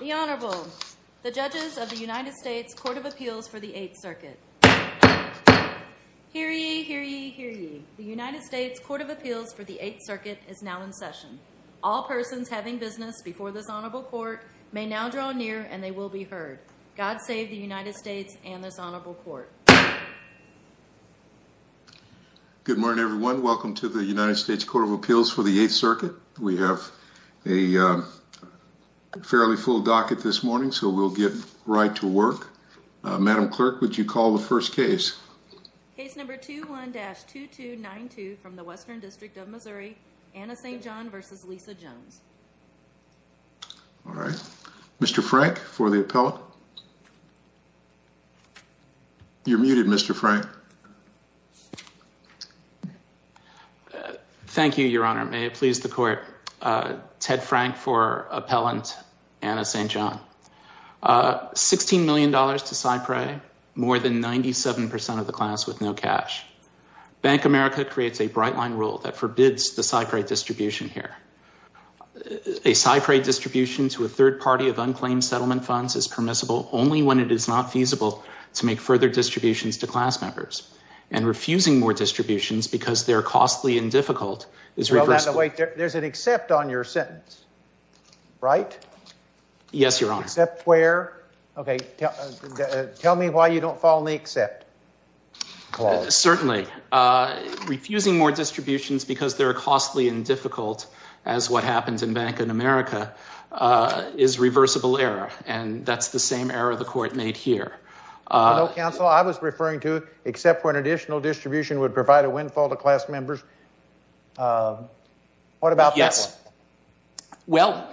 The Honorable, the judges of the United States Court of Appeals for the Eighth Circuit. Hear ye, hear ye, hear ye. The United States Court of Appeals for the Eighth Circuit is now in session. All persons having business before this Honorable Court may now draw near and they will be heard. God save the United States and this Honorable Court. Good morning, everyone. Welcome to the United States Court of Appeals for the Eighth Circuit. We have a fairly full docket this morning, so we'll get right to work. Madam Clerk, would you call the first case? Case number 21-2292 from the Western District of Missouri, Anna St. John v. Lisa Jones. All right. Mr. Frank for the appellate. You're muted, Mr. Frank. Thank you, Your Honor. May it please the Court. Ted Frank for appellant, Anna St. John. $16 million to SIPRE, more than 97% of the class with no cash. Bank America creates a bright line rule that forbids the SIPRE distribution here. A SIPRE distribution to a third party of unclaimed settlement funds is permissible only when it is not feasible to make further distributions to a third party. There's an except on your sentence, right? Yes, Your Honor. Except where? Okay. Tell me why you don't follow the except clause. Certainly. Refusing more distributions because they're costly and difficult, as what happens in Bank of America, is reversible error, and that's the same error the Court made here. I know, counsel. I was referring to when additional distribution would provide a windfall to class members. What about that? Yes. Well,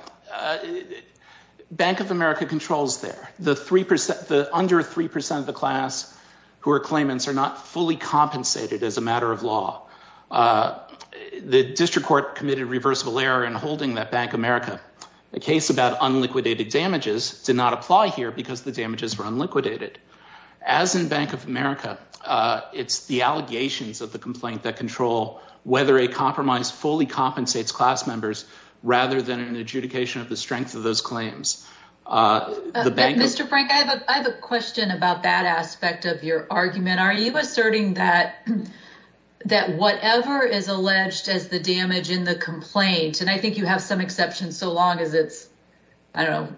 Bank of America controls there. The under 3% of the class who are claimants are not fully compensated as a matter of law. The District Court committed reversible error in holding that Bank of America. The case about unliquidated damages did not apply here because the damages were unliquidated. As in Bank of America, it's the allegations of the complaint that control whether a compromise fully compensates class members rather than an adjudication of the strength of those claims. Mr. Frank, I have a question about that aspect of your argument. Are you asserting that whatever is alleged as the damage in the complaint, and I think you have some so long as it's, I don't know,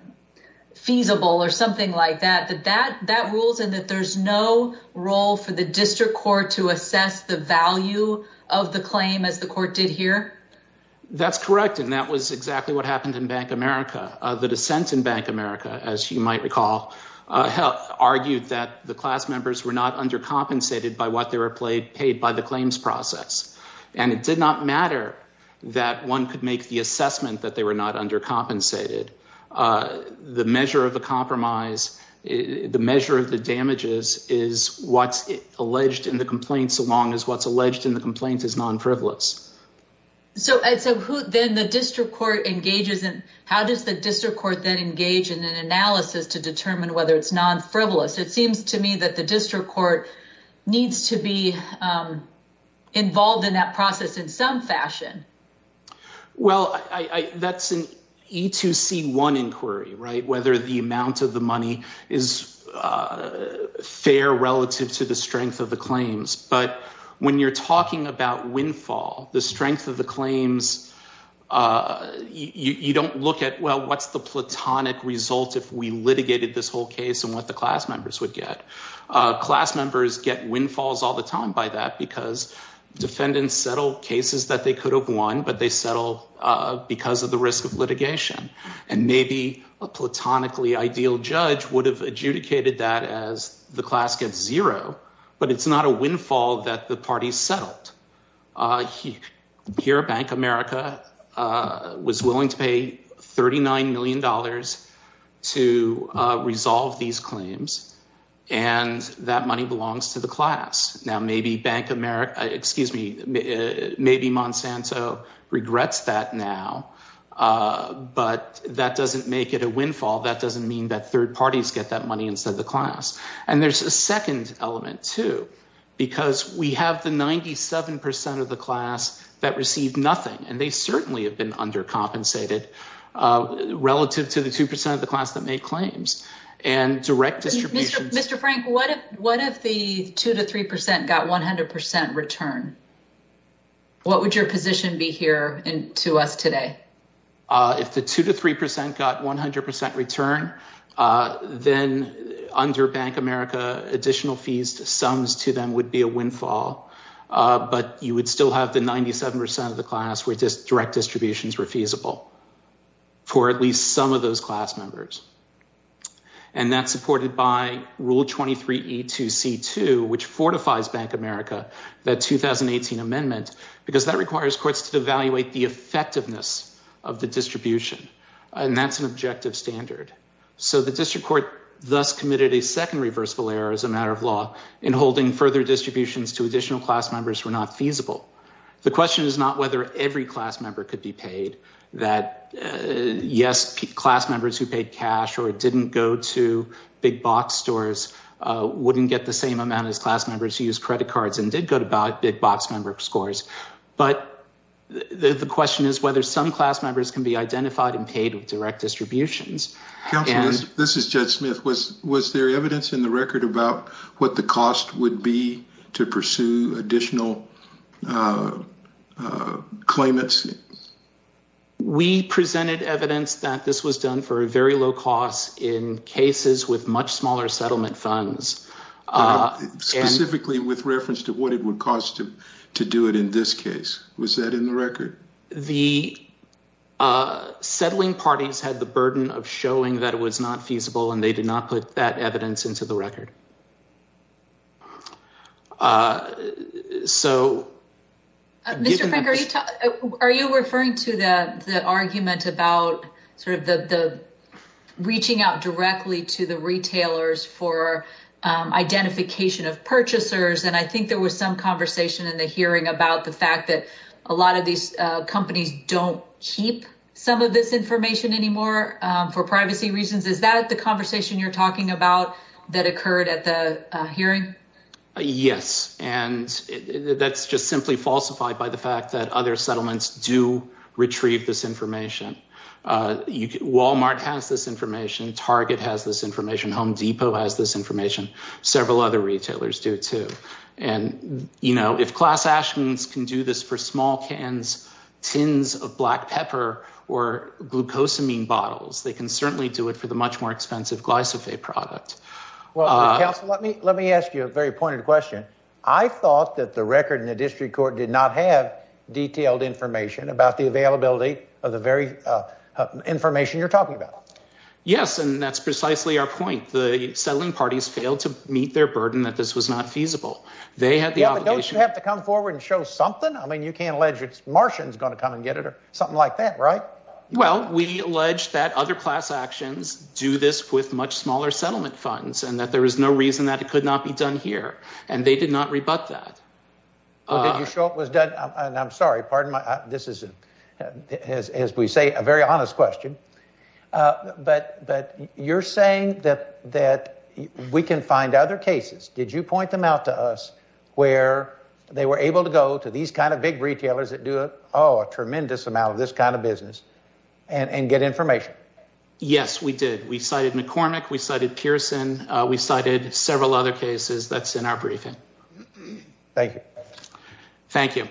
feasible or something like that, that that rules and that there's no role for the District Court to assess the value of the claim as the Court did here? That's correct, and that was exactly what happened in Bank of America. The dissent in Bank of America, as you might recall, argued that the class members were not undercompensated by what they were paid by the claims process. It did not matter that one could make the assessment that they were not undercompensated. The measure of the compromise, the measure of the damages, is what's alleged in the complaint so long as what's alleged in the complaint is non-frivolous. So, then the District Court engages in, how does the District Court then engage in an analysis to determine whether it's non-frivolous? It seems to me that the District Court needs to be E2C1 inquiry, right? Whether the amount of the money is fair relative to the strength of the claims, but when you're talking about windfall, the strength of the claims, you don't look at, well, what's the platonic result if we litigated this whole case and what the class members would get? Class members get windfalls all the time by that because defendants settle cases that they could have won, but they settle because of the risk of litigation. And maybe a platonically ideal judge would have adjudicated that as the class gets zero, but it's not a windfall that the parties settled. Here, Bank of America was willing to pay $39 million to resolve these regrets that now, but that doesn't make it a windfall. That doesn't mean that third parties get that money instead of the class. And there's a second element too, because we have the 97% of the class that received nothing, and they certainly have been undercompensated relative to the 2% of the class that made claims and direct distribution. Mr. Frank, what if the 2% to 3% got 100% return? What would your position be here to us today? If the 2% to 3% got 100% return, then under Bank of America, additional fees, sums to them would be a windfall. But you would still have the 97% of the class where direct distributions were feasible for at least some of those class members. And that's supported by rule 23E2C2, which fortifies Bank of America, that 2018 amendment, because that requires courts to evaluate the effectiveness of the distribution. And that's an objective standard. So the district court thus committed a second reversible error as a matter of law in holding further distributions to additional class members were not feasible. The question is whether every class member could be paid, that yes, class members who paid cash or didn't go to big box stores wouldn't get the same amount as class members who used credit cards and did go to big box member scores. But the question is whether some class members can be identified and paid with direct distributions. Counsel, this is Jed Smith. Was there evidence in the record about what the cost would be to pursue additional claimants? We presented evidence that this was done for a very low cost in cases with much smaller settlement funds. Specifically with reference to what it would cost to do it in this case. Was that in the record? The settling parties had the burden of showing that it was not feasible and they did not put that evidence into the record. Mr. Frank, are you referring to the argument about reaching out directly to the retailers for identification of purchasers? And I think there was some conversation in the hearing about the fact that a lot of these companies don't keep some of this information anymore for privacy reasons. Is that the conversation you're talking about that occurred at the hearing? Yes. And that's just simply falsified by the fact that other settlements do retrieve this information. Walmart has this information. Target has this information. Home Depot has this information. Several other retailers do too. And, you know, if class Ashmans can do this for small glyphosate products. Let me ask you a very pointed question. I thought that the record in the district court did not have detailed information about the availability of the very information you're talking about. Yes. And that's precisely our point. The settling parties failed to meet their burden that this was not feasible. They had the obligation to come forward and show something. I mean, you can't allege it's Martians going to come and get it or something like that, right? Well, we allege that other class actions do this with much smaller settlement funds and that there is no reason that it could not be done here. And they did not rebut that. I'm sorry. This is, as we say, a very honest question. But you're saying that we can find other cases. Did you point them out to us where they were able to go to these kind of big retailers that do a tremendous amount of this kind of business and get information? Yes, we did. We cited McCormick. We cited Pearson. We cited several other cases. That's in our briefing. Thank you. Thank you.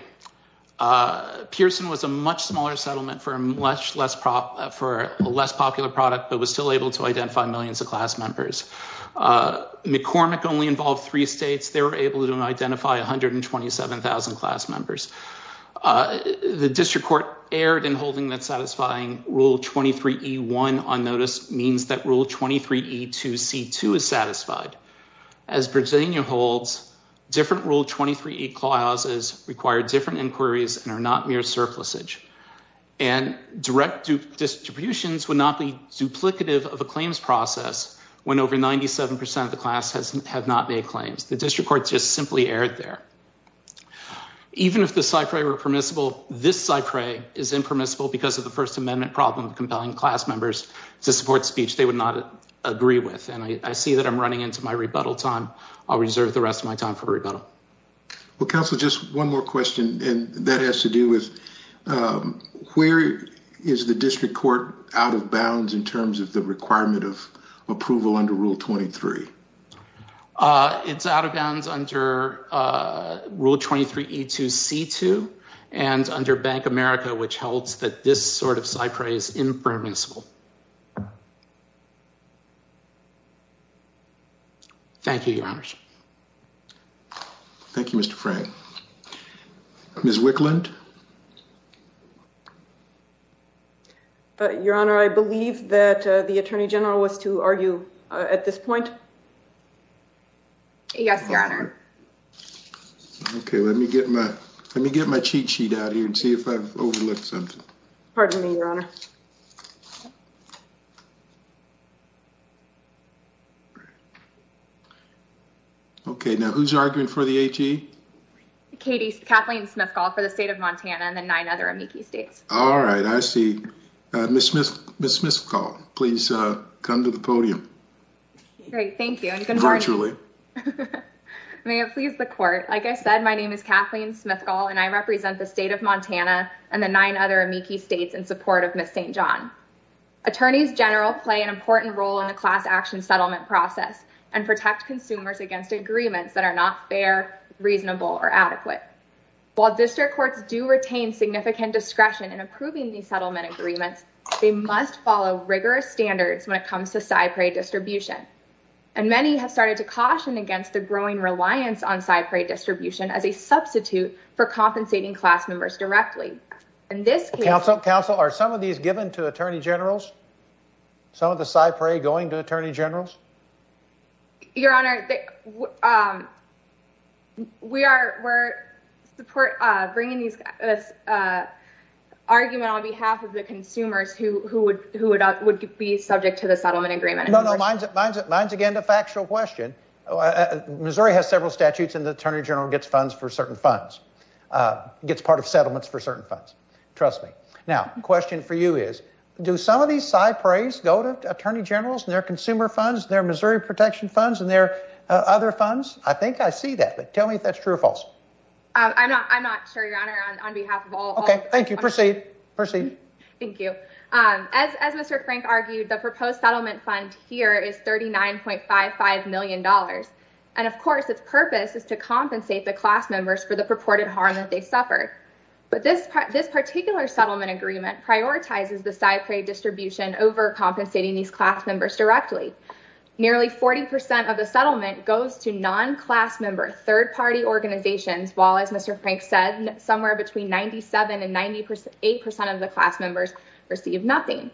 Pearson was a much smaller settlement for a less popular product, but was still able to identify millions of class members. McCormick only involved three states. They were able to rule 23E1 on notice means that rule 23E2C2 is satisfied. As Virginia holds, different rule 23E clauses require different inquiries and are not mere surplusage. And direct distributions would not be duplicative of a claims process when over 97 percent of the class have not made claims. The district court just simply erred there. Even if the First Amendment problem of compelling class members to support speech, they would not agree with. I see that I'm running into my rebuttal time. I'll reserve the rest of my time for rebuttal. Well, Counselor, just one more question, and that has to do with where is the district court out of bounds in terms of the requirement of approval under rule 23? It's out of bounds under rule 23E2C2 and under Bank America, which holds that this sort of cypher is impermissible. Thank you, Your Honor. Thank you, Mr. Frank. Ms. Wicklund? Your Honor, I believe that the Attorney General was to argue at this point. Yes, Your Honor. Okay, let me get my cheat sheet out here and see if I've overlooked something. Pardon me, Your Honor. Okay, now who's arguing for the HE? Kathleen Smithcall for the state of Montana and the nine other amici states. All right, I see. Ms. Smithcall, please come to the podium. Great, thank you. May it please the Court. Like I said, my name is Kathleen Smithcall, and I represent the state of Montana and the nine other amici states in support of Ms. St. John. Attorneys General play an important role in the class action settlement process and protect consumers against agreements that are not fair, reasonable, or adequate. While district courts do retain significant discretion in approving these settlement agreements, they must follow rigorous standards when it comes to cypre distribution, and many have started to caution against the growing reliance on cypre distribution as a substitute for compensating class members directly. Council, are some of these given to Attorney Generals? Some of the cypre going to Attorney Generals? Your Honor, we are bringing this argument on behalf of the consumers who would be subject to the settlement agreement. No, no, mine's again a factual question. Missouri has several statutes, and the Attorney General gets funds for certain funds, gets part of settlements for certain funds. Trust me. Now, the question for you is, do some of these cypres go to Attorney Generals, their consumer funds, their Missouri protection funds, and their other funds? I think I see that, but tell me if that's true or false. I'm not sure, Your Honor, on behalf of all... Okay, thank you. Proceed, proceed. Thank you. As Mr. Frank argued, the proposed settlement fund here is $39.55 million, and of course, its purpose is to compensate the class members for the purported harm that they suffered, but this particular settlement agreement prioritizes the cypre distribution over compensating these class directly. Nearly 40% of the settlement goes to non-class member, third-party organizations, while as Mr. Frank said, somewhere between 97% and 98% of the class members receive nothing.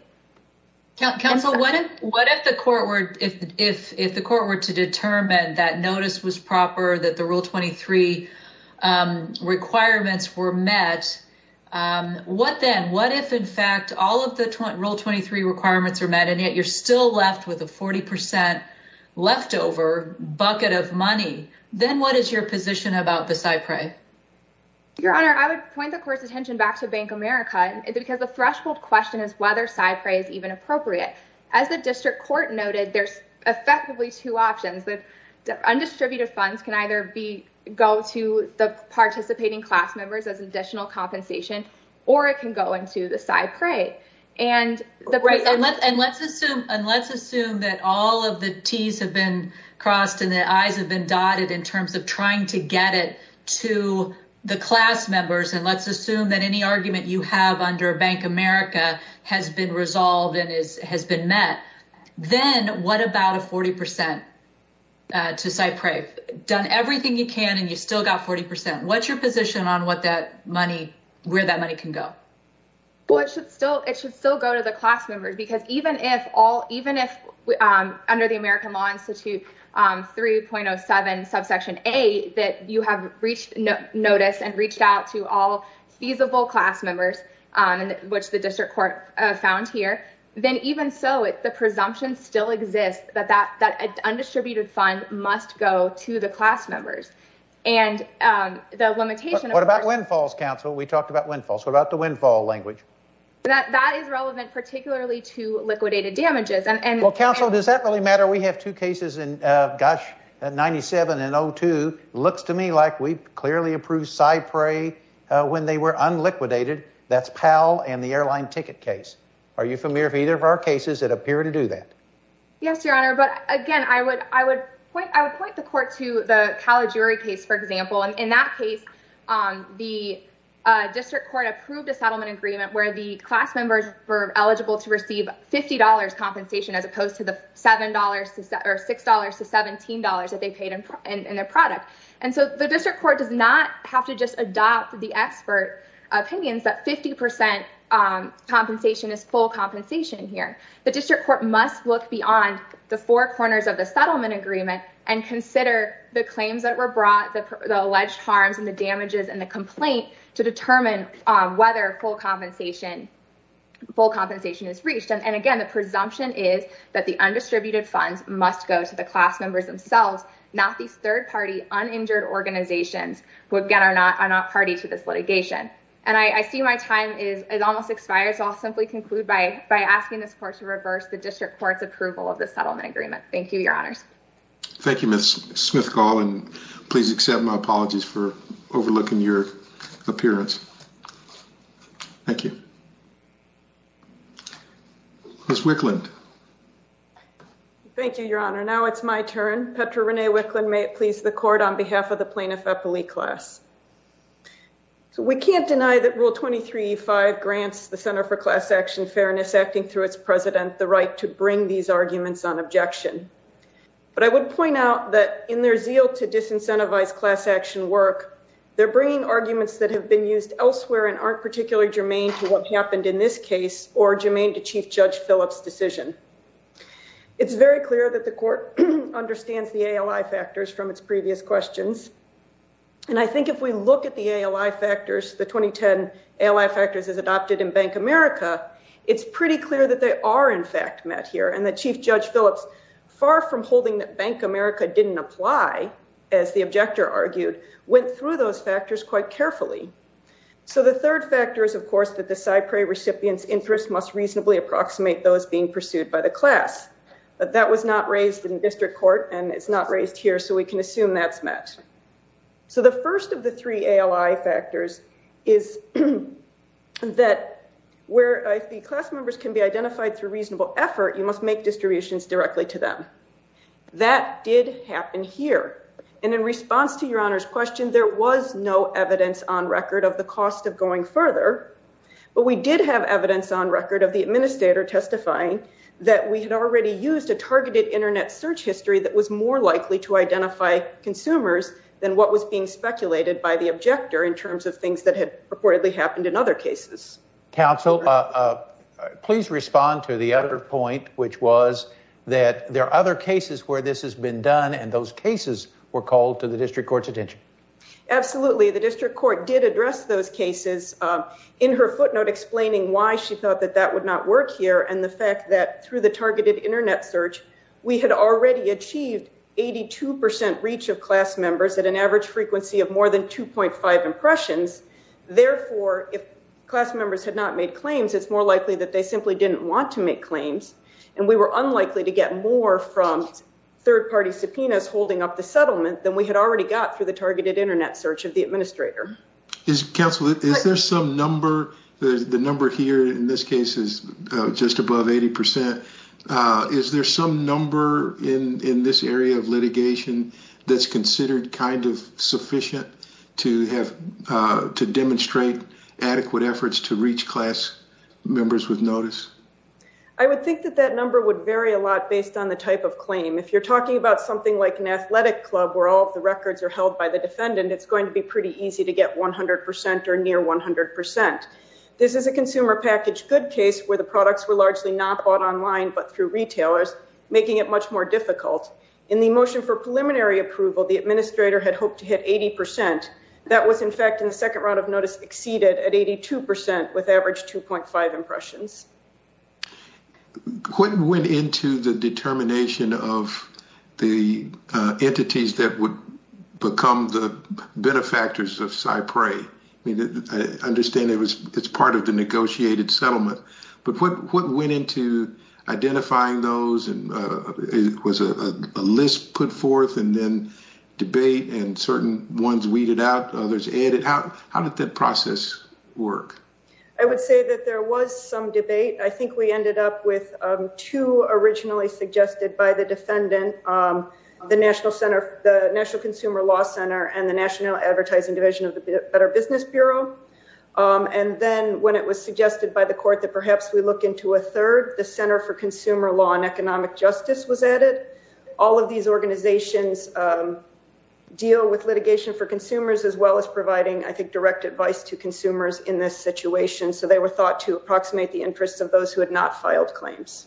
Counsel, what if the court were to determine that notice was proper, that the Rule 23 requirements were met, what then? What if, in fact, all of the Rule 23 requirements are met, yet you're still left with a 40% leftover bucket of money? Then what is your position about the cypre? Your Honor, I would point the court's attention back to Bank America, because the threshold question is whether cypre is even appropriate. As the district court noted, there's effectively two options. The undistributed funds can either go to the participating class members as additional compensation, or it can go into the cypre. Let's assume that all of the T's have been crossed and the I's have been dotted in terms of trying to get it to the class members, and let's assume that any argument you have under Bank America has been resolved and has been met. Then what about a 40% to cypre? You've done everything you can and you still got 40%. What's your position on where that money can go? It should still go to the class members, because even if, under the American Law Institute 3.07 subsection A, that you have reached notice and reached out to all feasible class members, which the district court found here, then even so, the presumption still exists that that undistributed fund must go to the class members. The limitation of course... What about windfalls, counsel? We talked about windfalls. What about the windfall language? That is relevant particularly to liquidated damages. Well, counsel, does that really matter? We have two cases in, gosh, 97 and 02. Looks to me like we've clearly approved cypre when they were unliquidated. That's PAL and the airline ticket case. Are you familiar with either of our cases that appear to do that? Yes, your honor, but again, I would point the court to the Calajuri case, for example, and in that case, the district court approved a settlement agreement where the class members were eligible to receive $50 compensation as opposed to the $7 or $6 to $17 that they paid in their product. The district court does not have to just adopt the expert opinions that 50% compensation is full compensation here. The district court must look beyond the four corners of the settlement agreement and consider the claims that were full compensation is reached. And again, the presumption is that the undistributed funds must go to the class members themselves, not these third-party uninjured organizations, who again are not party to this litigation. And I see my time is almost expired, so I'll simply conclude by asking this court to reverse the district court's approval of the settlement agreement. Thank you, your honors. Thank you, Ms. Smith-Gall, and please accept my apologies for being late. Ms. Wicklund. Thank you, your honor. Now it's my turn. Petra Renee Wicklund, may it please the court, on behalf of the Plaintiff Eppley class. So we can't deny that Rule 23E5 grants the Center for Class Action Fairness, acting through its president, the right to bring these arguments on objection. But I would point out that in their zeal to disincentivize class action work, they're bringing arguments that have been used elsewhere and aren't particularly germane to what happened in this case or germane to Chief Judge Phillips' decision. It's very clear that the court understands the ALI factors from its previous questions. And I think if we look at the ALI factors, the 2010 ALI factors as adopted in Bank America, it's pretty clear that they are in fact met here, and that Chief Judge Phillips, far from holding that Bank America didn't apply, as the objector argued, went through those factors quite carefully. So the third factor is, of course, that the Cypre recipient's interest must reasonably approximate those being pursued by the class. But that was not raised in district court, and it's not raised here, so we can assume that's met. So the first of the three ALI factors is that where the class members can be identified through reasonable effort, you must make distributions directly to them. That did happen here. And in response to your honor's question, there was no evidence on record of the cost of going further, but we did have evidence on record of the administrator testifying that we had already used a targeted internet search history that was more likely to identify consumers than what was being speculated by the objector in terms of things that had reportedly happened in other cases. Counsel, please respond to the other point, which was that there are other cases where this has been done and those cases were called to the district court. Absolutely, the district court did address those cases in her footnote explaining why she thought that that would not work here and the fact that through the targeted internet search, we had already achieved 82 percent reach of class members at an average frequency of more than 2.5 impressions. Therefore, if class members had not made claims, it's more likely that they simply didn't want to make claims, and we were unlikely to get more from third-party subpoenas holding up the settlement than we had already got through the targeted internet search of the administrator. Counsel, is there some number, the number here in this case is just above 80 percent, is there some number in this area of litigation that's considered kind of sufficient to have to demonstrate adequate efforts to reach class members with notice? I would think that that number would vary a lot based on the type of claim. If you're talking about something like an athletic club where all the records are held by the defendant, it's going to be pretty easy to get 100 percent or near 100 percent. This is a consumer package good case where the products were largely not bought online but through retailers, making it much more difficult. In the motion for preliminary approval, the administrator had hoped to hit 80 percent. That was in fact in the second round of notice exceeded at 82 percent with average 2.5 impressions. What went into the determination of the entities that would become the benefactors of CyPray? I understand it's part of the negotiated settlement, but what went into identifying those? It was a list put forth and then debate and certain ones weeded out, others added. How did that process work? I would say that there was some debate. I think we ended up with two originally suggested by the defendant. The National Consumer Law Center and the National Advertising Division of the Better Business Bureau. And then when it was suggested by the court that perhaps we look into a third, the Center for Consumer Law and Economic Justice was added. All of these organizations deal with litigation for consumers as well as providing, I think, direct advice to consumers in this situation. So they were thought to approximate the interests of those who had not filed claims.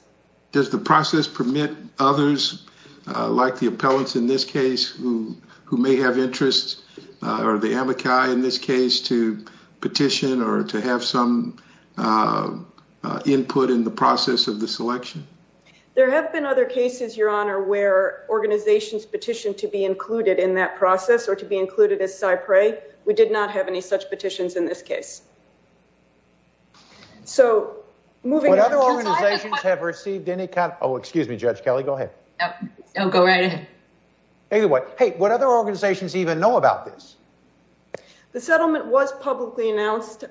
Does the process permit others, like the appellants in this case, who may have interests, or the amici in this case, to petition or to have some input in the process of the election? There have been other cases, Your Honor, where organizations petitioned to be included in that process or to be included as CyPray. We did not have any such petitions in this case. So, moving on... Would other organizations have received any kind of... Oh, excuse me, Judge Kelly, go ahead. No, go right ahead. Anyway, hey, would other organizations even know about this? The settlement was publicly announced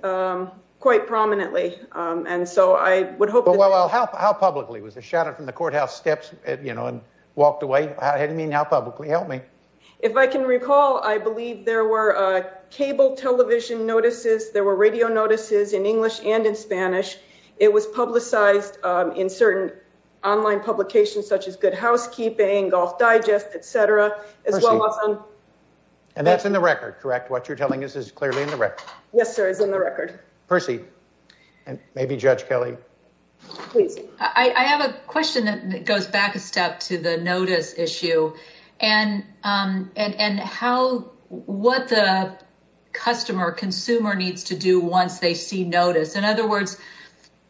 quite prominently. And so I would hope that... Well, how publicly? Was it shouted from the courthouse steps, you know, and walked away? I didn't mean how publicly. Help me. If I can recall, I believe there were cable television notices, there were radio notices in English and in Spanish. It was publicized in certain online publications such as Good Housekeeping, Golf Digest, et cetera, as well as on... And that's in the record, correct? What is in the record? Percy, and maybe Judge Kelly. Please. I have a question that goes back a step to the notice issue and what the customer, consumer needs to do once they see notice. In other words,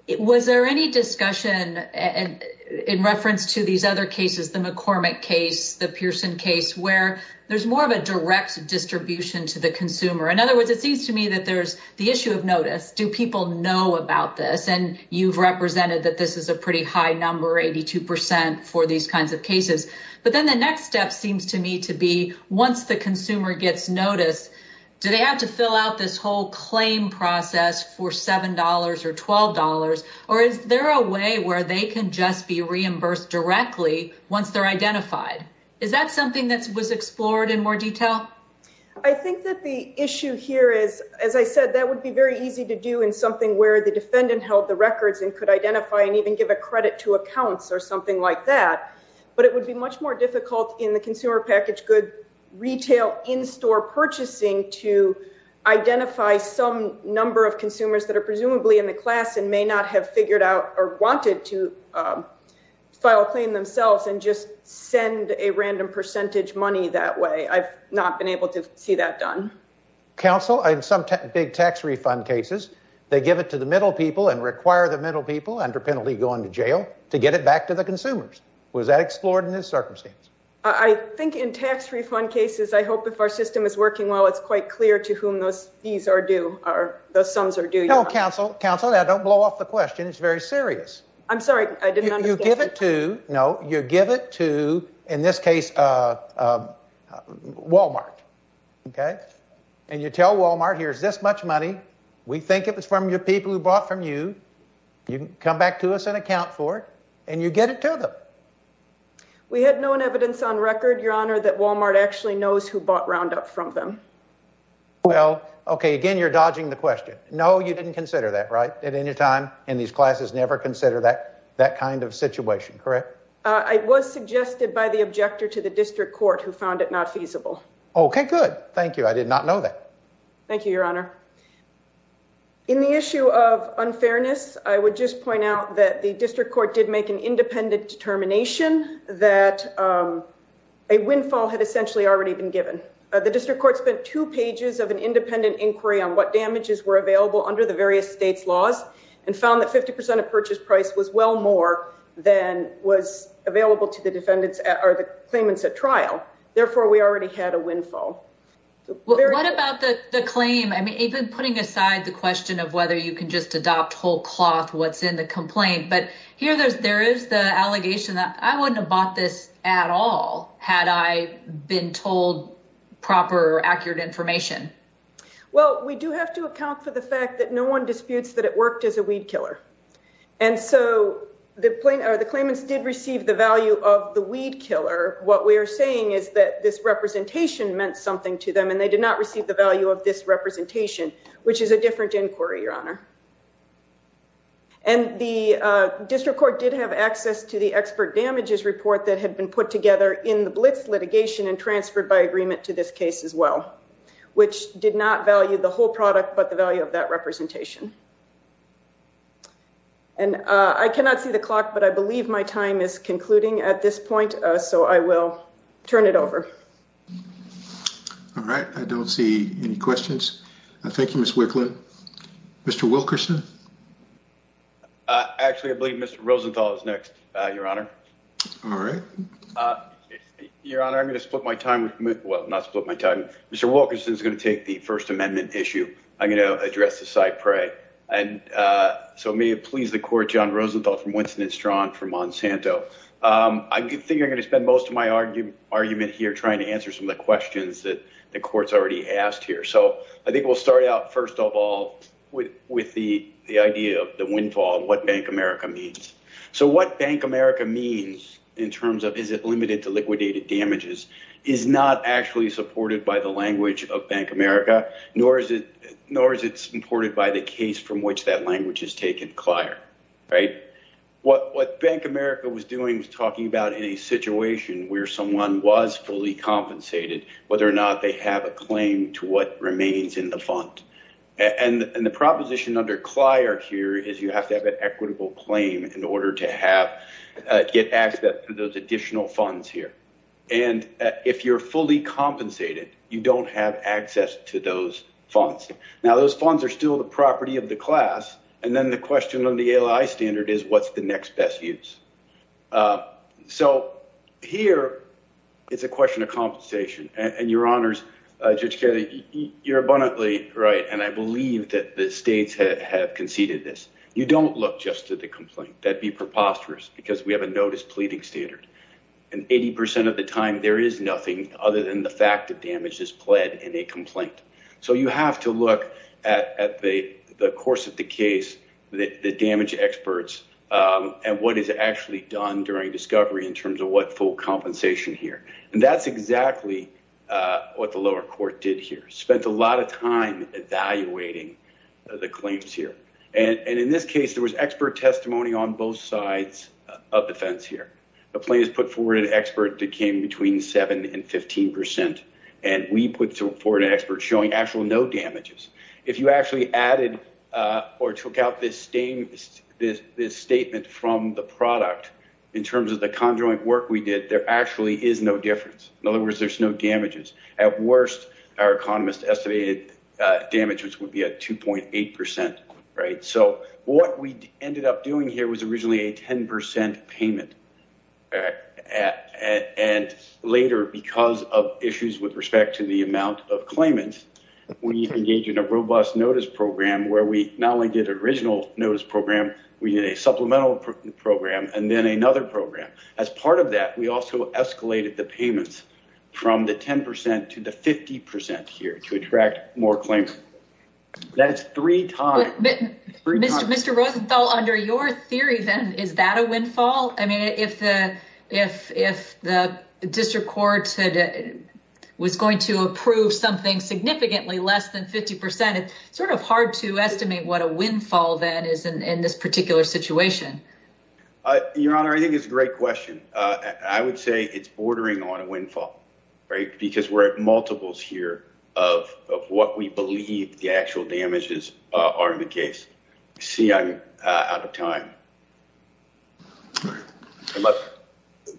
was there any discussion in reference to these other cases, the McCormick case, the Pearson case, where there's more of a issue of notice? Do people know about this? And you've represented that this is a pretty high number, 82% for these kinds of cases. But then the next step seems to me to be once the consumer gets notice, do they have to fill out this whole claim process for $7 or $12? Or is there a way where they can just be reimbursed directly once they're identified? Is that something that was very easy to do in something where the defendant held the records and could identify and even give a credit to accounts or something like that? But it would be much more difficult in the consumer package good retail in-store purchasing to identify some number of consumers that are presumably in the class and may not have figured out or wanted to file a claim themselves and just send a random percentage money that way. I've not been able to see that done. Counsel, in some big tax refund cases, they give it to the middle people and require the middle people under penalty going to jail to get it back to the consumers. Was that explored in this circumstance? I think in tax refund cases, I hope if our system is working well, it's quite clear to whom those fees are due or those sums are due. No, counsel. Counsel, don't blow off the question. It's very serious. I'm sorry, I didn't understand. You give it to, no, you give it to, in this case, Walmart, okay? And you tell Walmart, here's this much money. We think it was from your people who bought from you. You can come back to us and account for it, and you get it to them. We had known evidence on record, Your Honor, that Walmart actually knows who bought Roundup from them. Well, okay, again, you're dodging the question. No, you didn't consider that, right, at any time in these classes? Never consider that kind of situation, correct? I was suggested by the objector to the district court who found it not feasible. Okay, good. Thank you. I did not know that. Thank you, Your Honor. In the issue of unfairness, I would just point out that the district court did make an independent determination that a windfall had essentially already been given. The district court spent two pages of an independent inquiry on what damages were available under the various states' laws and found that 50 percent of purchase price was well more than was the claimant's at trial. Therefore, we already had a windfall. What about the claim? I mean, even putting aside the question of whether you can just adopt whole cloth what's in the complaint, but here there is the allegation that I wouldn't have bought this at all had I been told proper, accurate information. Well, we do have to account for the fact that no one disputes that it worked as a weed killer. And so the claimants did receive the value of the weed killer. What we are saying is that this representation meant something to them and they did not receive the value of this representation, which is a different inquiry, Your Honor. And the district court did have access to the expert damages report that had been put together in the Blitz litigation and transferred by agreement to this case as well, which did not value the whole product but the whole case. And I cannot see the clock, but I believe my time is concluding at this point, so I will turn it over. All right. I don't see any questions. Thank you, Ms. Wicklund. Mr. Wilkerson? Actually, I believe Mr. Rosenthal is next, Your Honor. All right. Your Honor, I'm going to split my time. Well, not split my time. Mr. Wilkerson is going to take the First Amendment issue. I'm going to address the CyPrae. And so may it please the Court, John Rosenthal from Winston & Strawn for Monsanto. I think you're going to spend most of my argument here trying to answer some of the questions that the Court's already asked here. So I think we'll start out, first of all, with the idea of the windfall and what Bank America means. So what Bank America means in terms of is it limited to liquidated damages is not actually supported by the language of Bank America, nor is it supported by the case from which that language is taken, CLIER. What Bank America was doing was talking about in a situation where someone was fully compensated, whether or not they have a claim to what remains in the fund. And the proposition under CLIER here is you have to have an equitable claim in order to don't have access to those funds. Now, those funds are still the property of the class. And then the question on the ALI standard is what's the next best use. So here it's a question of compensation and your honors, Judge Kelly, you're abundantly right. And I believe that the states have conceded this. You don't look just to the complaint. That'd be preposterous because we have a notice pleading standard. And 80% of the time there is nothing other than the fact that damage is pled in a complaint. So you have to look at the course of the case, the damage experts and what is actually done during discovery in terms of what full compensation here. And that's exactly what the lower court did here, spent a lot of time evaluating the claims here. And in this case, there was expert testimony on both sides of the fence here. The plaintiffs put forward an expert that came between 7% and 15%. And we put forward an expert showing actual no damages. If you actually added or took out this statement from the product in terms of the conjoint work we did, there actually is no difference. In other words, there's no damages. At worst, our economists estimated damages would be at 2.8%. So what we ended up doing here was originally a 10% payment. And later, because of issues with respect to the amount of claimants, we engaged in a robust notice program where we not only did an original notice program, we did a supplemental program and then another program. As part of that, we also escalated the payments from the 10% to the 50% here to attract more claimants. That's three times. Mr. Rosenthal, under your theory then, is that a windfall? I mean, if the district court was going to approve something significantly less than 50%, it's sort of hard to estimate what a windfall then is in this particular situation. Your Honor, I think it's a great question. I would say it's bordering on a windfall, because we're at multiples here of what we believe the actual damages are in the case. See, I'm out of time.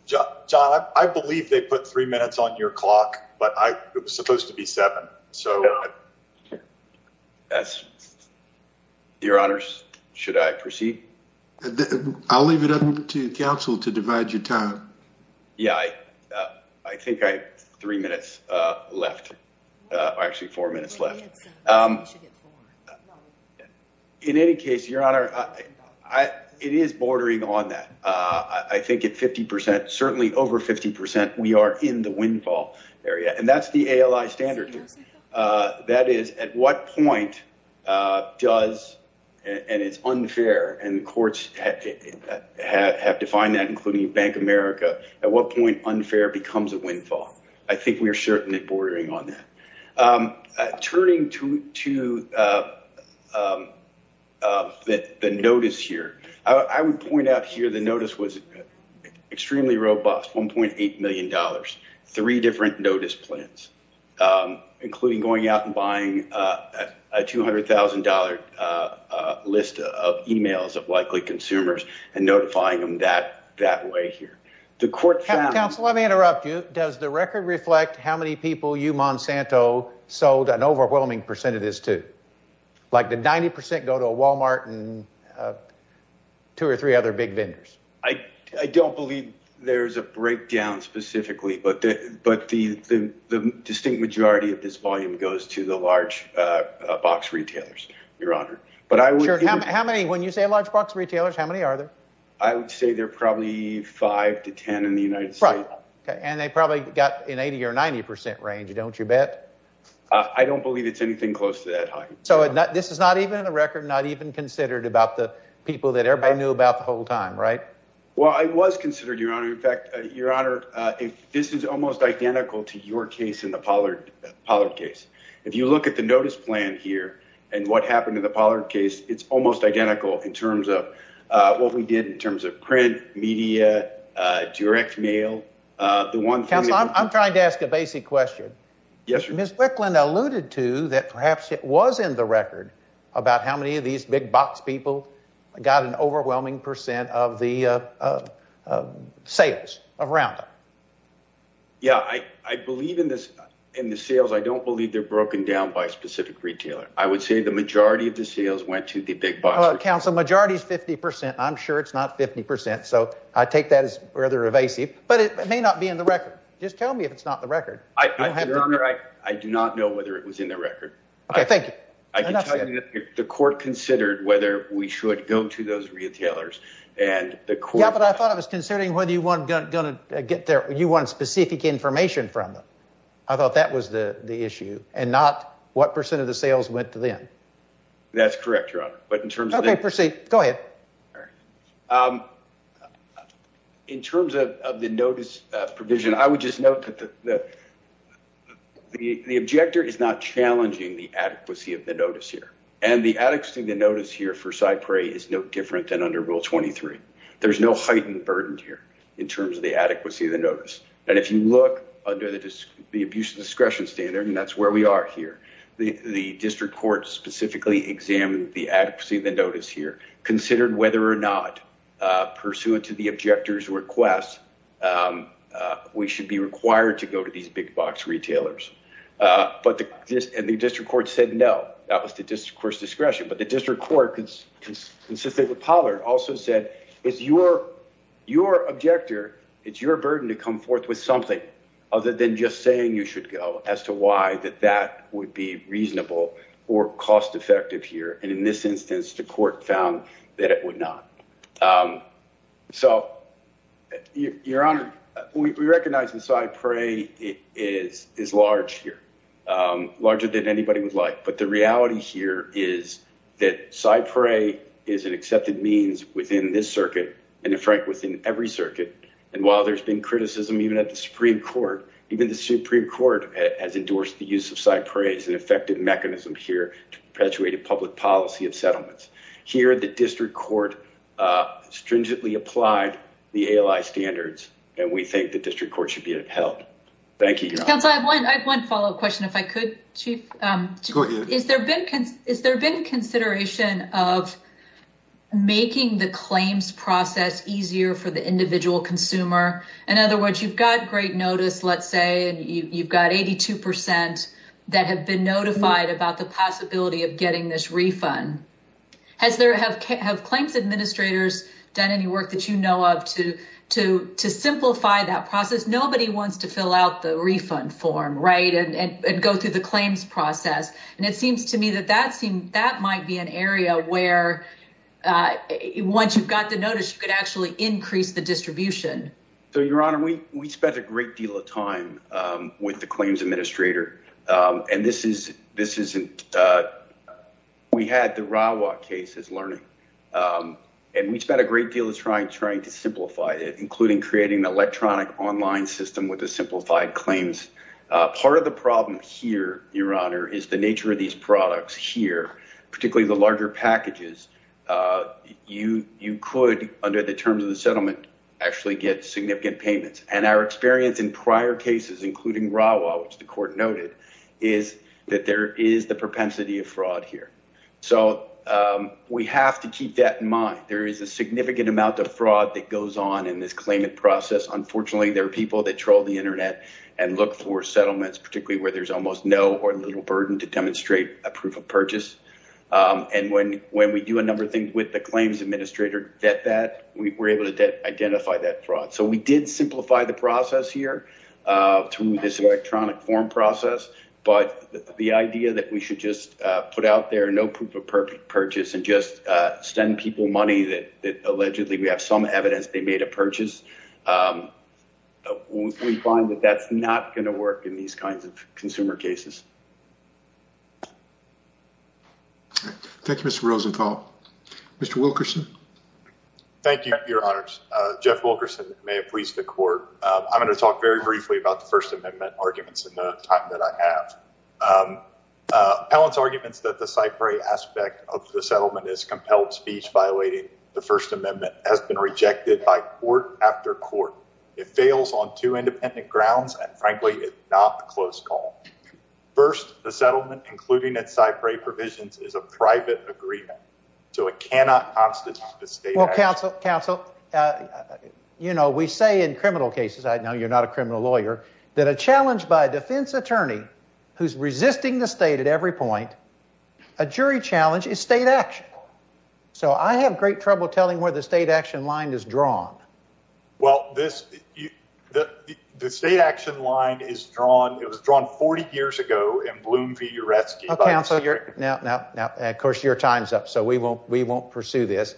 John, I believe they put three minutes on your clock, but it was supposed to be seven. Your Honors, should I proceed? I'll leave it up to counsel to divide your time. Yeah, I think I have three minutes left. Actually, four minutes left. In any case, Your Honor, it is bordering on that. I think at 50%, certainly over 50%, we are in the windfall area, and that's the ALI standard. That is, at what point does, and it's unfair, and courts have defined that, including Bank of America, at what point unfair becomes a windfall? I think we are certain it's bordering on that. Turning to the notice here, I would point out here the notice was extremely robust, $1.8 million, three different notice plans, including going out and buying a $200,000 list of emails of likely consumers and notifying them that way here. The court found— Counsel, let me interrupt you. Does the record reflect how many people you, Monsanto, sold an overwhelming percentage to? Like, did 90% go to a Walmart and two or three other big vendors? I don't believe there's a breakdown specifically, but the distinct majority of this volume goes to large box retailers, Your Honor. But I would— Sure. How many, when you say large box retailers, how many are there? I would say there are probably five to ten in the United States. Right. Okay. And they probably got an 80% or 90% range, don't you bet? I don't believe it's anything close to that height. So this is not even in the record, not even considered about the people that everybody knew about the whole time, right? Well, it was considered, Your Honor. In fact, Your Honor, this is almost identical to your case in the Pollard case. If you look at the notice plan here and what happened in the Pollard case, it's almost identical in terms of what we did in terms of print, media, direct mail, the one— Counsel, I'm trying to ask a basic question. Yes, Your Honor. Ms. Wicklund alluded to that perhaps it was in the record about how many of these big box people got an overwhelming percent of the sales of Roundup. Yeah, I believe in the sales. I don't believe they're broken down by a specific retailer. I would say the majority of the sales went to the big box— Counsel, the majority is 50%. I'm sure it's not 50%. So I take that as rather evasive, but it may not be in the record. Just tell me if it's not in the record. I do not know whether it was in the record. Okay, thank you. I can tell you that the court considered whether we should go to those retailers and the court— you want specific information from them. I thought that was the issue and not what percent of the sales went to them. That's correct, Your Honor, but in terms of— Okay, proceed. Go ahead. In terms of the notice provision, I would just note that the objector is not challenging the adequacy of the notice here, and the adequacy of the notice here for Cypre is no different than under Rule 23. There's no heightened burden here in terms of the adequacy of the notice, and if you look under the abuse of discretion standard, and that's where we are here, the district court specifically examined the adequacy of the notice here, considered whether or not, pursuant to the objector's request, we should be required to go to these big box retailers, and the district court said no. That was the district court's discretion, but the district court, consistent with Pollard, also said it's your objector— it's your burden to come forth with something other than just saying you should go as to why that that would be reasonable or cost-effective here, and in this instance, the court found that it would not. So, Your Honor, we recognize that Cypre is large here, larger than anybody would like, but the reality here is that Cypre is an accepted means within this circuit, and in fact, within every circuit, and while there's been criticism even at the Supreme Court, even the Supreme Court has endorsed the use of Cypre as an effective mechanism here to perpetuate a public policy of settlements. Here, the district court stringently applied the ALI standards, and we think the district court should be upheld. Thank you, Your Honor. Counsel, I have one follow-up question, if I could, Chief. Go ahead. Has there been consideration of making the claims process easier for the individual consumer? In other words, you've got great notice, let's say, and you've got 82 percent that have been notified about the possibility of getting this refund. Have claims administrators done any work that you know of to simplify that process? Nobody wants to fill out the refund form, right, and go through the claims process, and it seems to me that that might be an area where once you've got the notice, you could actually increase the distribution. So, Your Honor, we spent a great deal of time with the claims administrator, and we had the Rawa case as learning, and we spent a great deal of time trying to simplify it, including creating an electronic online system with the simplified claims. Part of the problem here, Your Honor, is the nature of these products here, particularly the larger packages. You could, under the terms of the settlement, actually get significant payments, and our experience in prior cases, including Rawa, which the court noted, is that there is the propensity of fraud here. So, we have to keep that in mind. There is a significant amount of fraud that goes on in this claimant process. Unfortunately, there are people that troll the internet and look for settlements, particularly where there's almost no or little burden to demonstrate a proof of purchase, and when we do a number of things with the claims administrator, that we're able to identify that fraud. So, we did simplify the process here through this electronic form process, but the idea that we should just put out there no proof of purchase and just send people money that allegedly we have some evidence they made a purchase, we find that that's not going to work in these kinds of consumer cases. Thank you, Mr. Rosenthal. Mr. Wilkerson? Thank you, Your Honors. Jeff Wilkerson, may it please the court. I'm going to talk very briefly about the First Amendment arguments in the time that I have. Appellant's arguments that the cypher aspect of the settlement is compelled speech violating the First Amendment has been rejected by court after court. It fails on two independent grounds, and frankly, it's not a close call. First, the settlement, including its cypher provisions, is a private agreement, so it cannot constitute a state action. Well, counsel, you know, we say in criminal cases, I know you're not a criminal lawyer, that a challenge by a defense attorney who's resisting the state at every point, a jury challenge is state action. So I have great trouble telling where the state action line is drawn. Well, the state action line is drawn, it was drawn 40 years ago in Bloom v. Uresky. Oh, counsel, now, of course, your time's up, so we won't pursue this.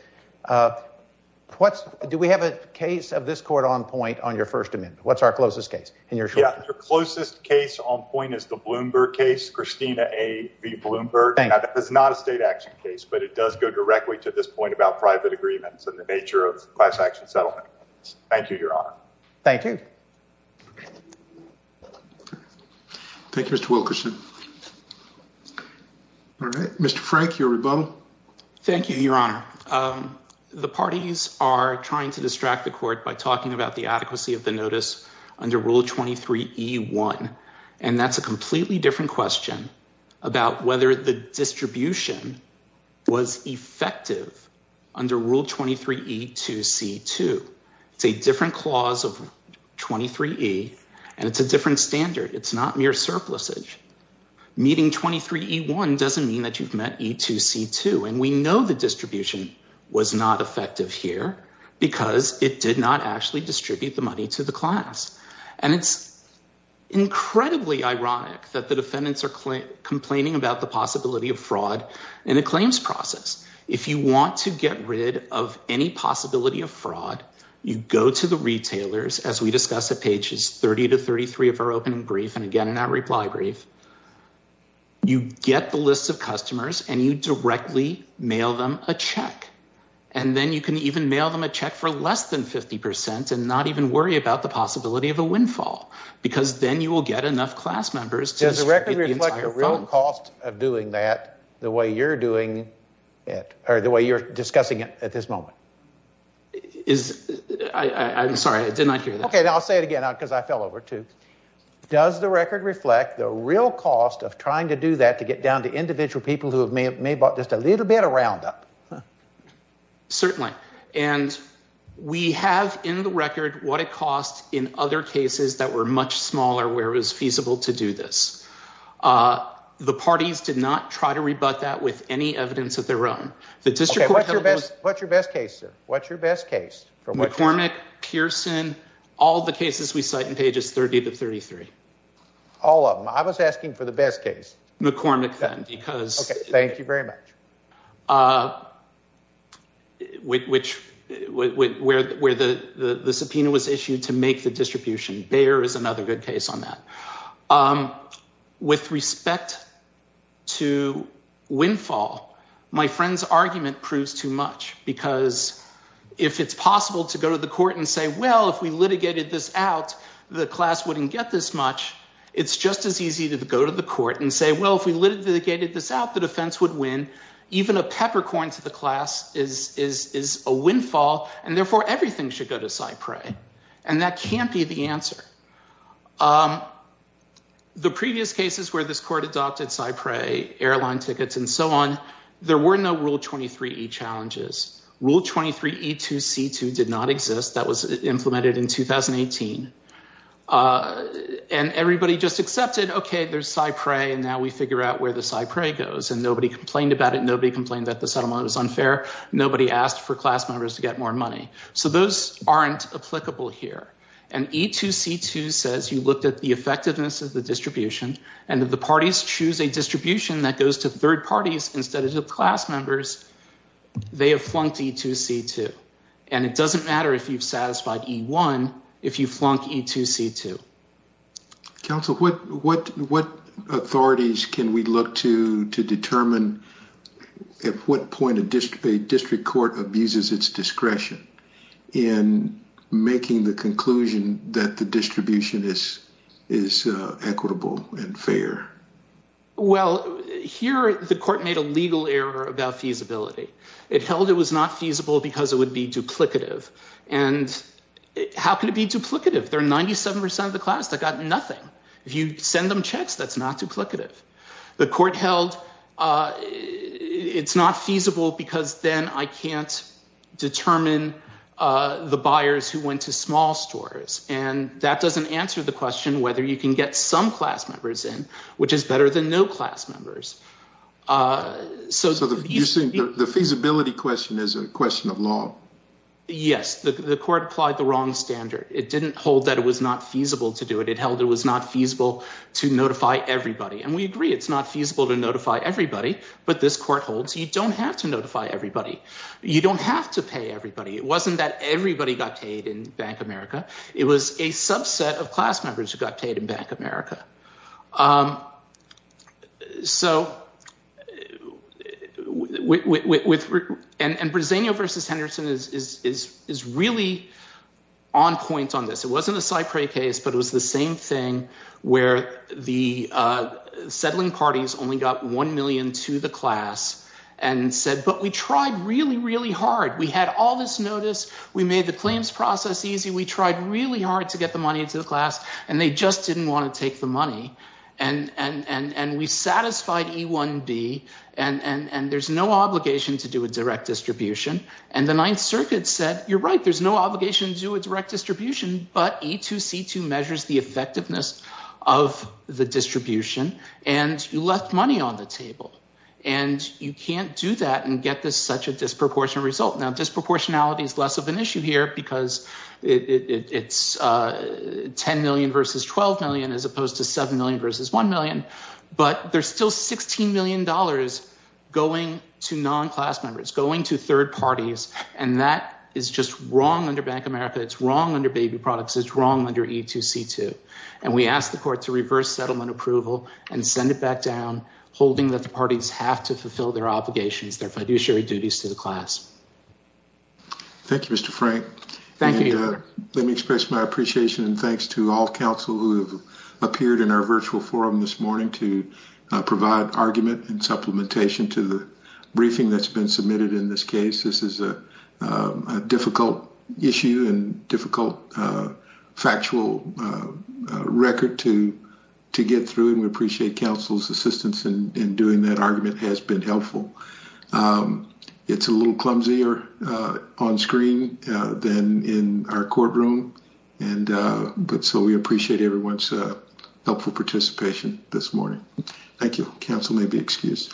Do we have a case of this court on point on your First Amendment? What's our closest case? Your closest case on point is the Bloomberg case, Christina A. v. Bloomberg. That is not a state action case, but it does go directly to this point about private agreements and the nature of class action settlement. Thank you, Your Honor. Thank you. Thank you, Mr. Wilkerson. All right, Mr. Frank, your rebuttal. Thank you, Your Honor. The parties are trying to distract the court by talking about the adequacy of the notice under Rule 23E-1, and that's a completely different question about whether the distribution was effective under Rule 23E-2C-2. It's a different clause of 23E, and it's a different standard. It's not mere surplusage. Meeting 23E-1 doesn't mean that you've met E-2C-2, and we know the distribution was not effective here because it did not actually distribute the money to the class. And it's incredibly ironic that the defendants are complaining about the possibility of fraud in a claims process. If you want to get rid of any possibility of fraud, you go to the retailers, as we discuss at pages 30 to 33 of our opening brief, and again in our reply brief, you get the list of customers, and you directly mail them a check. And then you can even mail them a check for less than 50 percent and not even worry about the possibility of a windfall, because then you will get enough class members to distribute the entire fund. Does the record reflect the real cost of doing that the way you're doing it, or the way you're discussing it at this moment? I'm sorry, I did not hear that. Okay, I'll say it again because I fell over, too. Does the record reflect the real cost of trying to do that to get down to individual people who may have bought just a little bit of Roundup? Certainly. And we have in the record what it cost in other cases that were much smaller where it was feasible to do this. The parties did not try to rebut that with any evidence of their own. Okay, what's your best case, sir? What's your best case? McCormick, Pearson, all the cases we cite in pages 30 to 33. All of them. I was asking for the best case. McCormick, then, because... Okay, thank you very much. Which, where the subpoena was issued to make the distribution. Bayer is another good case on that. With respect to windfall, my friend's argument proves too much, because if it's possible to go to the court and say, well, if we litigated this out, the class wouldn't get this much. It's just as easy to go to the court and say, well, if we litigated this out, the defense would win. Even a peppercorn to the class is a windfall, and therefore everything should go to CyPray. And that can't be the answer. The previous cases where this court adopted CyPray, airline tickets, and so on, there were no Rule 23e challenges. Rule 23e2c2 did not exist. That was implemented in 2018. And everybody just accepted, okay, there's CyPray, and now we figure out where the CyPray goes. And nobody complained about it. Nobody complained that the settlement was unfair. Nobody asked for class members to get more money. So those aren't applicable here. And e2c2 says you looked at the effectiveness of the distribution, and if the parties choose a distribution that goes to third parties instead of the class members, they have flunked e2c2. And it doesn't matter if you've satisfied e1 if you flunk e2c2. Counsel, what authorities can we look to to determine at what point a district court abuses its discretion in making the conclusion that the distribution is equitable and fair? Well, here the court made a legal error about feasibility. It held it was not feasible because it would be duplicative. And how can it be duplicative? There are 97% of the class that got nothing. If you send them checks, that's not duplicative. The court held it's not feasible because then I can't determine the buyers who went to small stores. And that doesn't answer the question whether you can get some class members in, which is better than no class members. The feasibility question is a question of law. Yes, the court applied the wrong standard. It didn't hold that it was not feasible to do it. It held it was not feasible to notify everybody. And we agree it's not feasible to notify everybody. But this court holds you don't have to notify everybody. You don't have to pay everybody. It wasn't that everybody got paid in Bank America. It was a subset of class members who got paid in Bank America. So and Briseño versus Henderson is really on point on this. It wasn't a Cypre case, but it was the same thing where the settling parties only got $1 million to the class and said, but we tried really, really hard. We had all this notice. We made the claims process easy. We tried really hard to get the money to the class. And they just didn't want to take the money. And we satisfied E1B. And there's no obligation to do a direct distribution. And the Ninth Circuit said, you're right. There's no obligation to do a direct distribution. But E2C2 measures the effectiveness of the distribution. And you left money on the table. And you can't do that and get this such a disproportionate result. Now, disproportionality is less of an issue here, because it's $10 million versus $12 million versus $1 million. But there's still $16 million going to non-class members, going to third parties. And that is just wrong under Bank America. It's wrong under Baby Products. It's wrong under E2C2. And we asked the court to reverse settlement approval and send it back down, holding that the parties have to fulfill their obligations, their fiduciary duties to the class. Thank you, Mr. Frank. Thank you. Let me express my appreciation and thanks to all counsel who have appeared in our virtual forum this morning to provide argument and supplementation to the briefing that's been submitted in this case. This is a difficult issue and difficult factual record to get through. And we appreciate counsel's assistance in doing that argument. It has been helpful. It's a little clumsier on screen than in our courtroom. And but so we appreciate everyone's helpful participation this morning. Thank you. Counsel may be excused.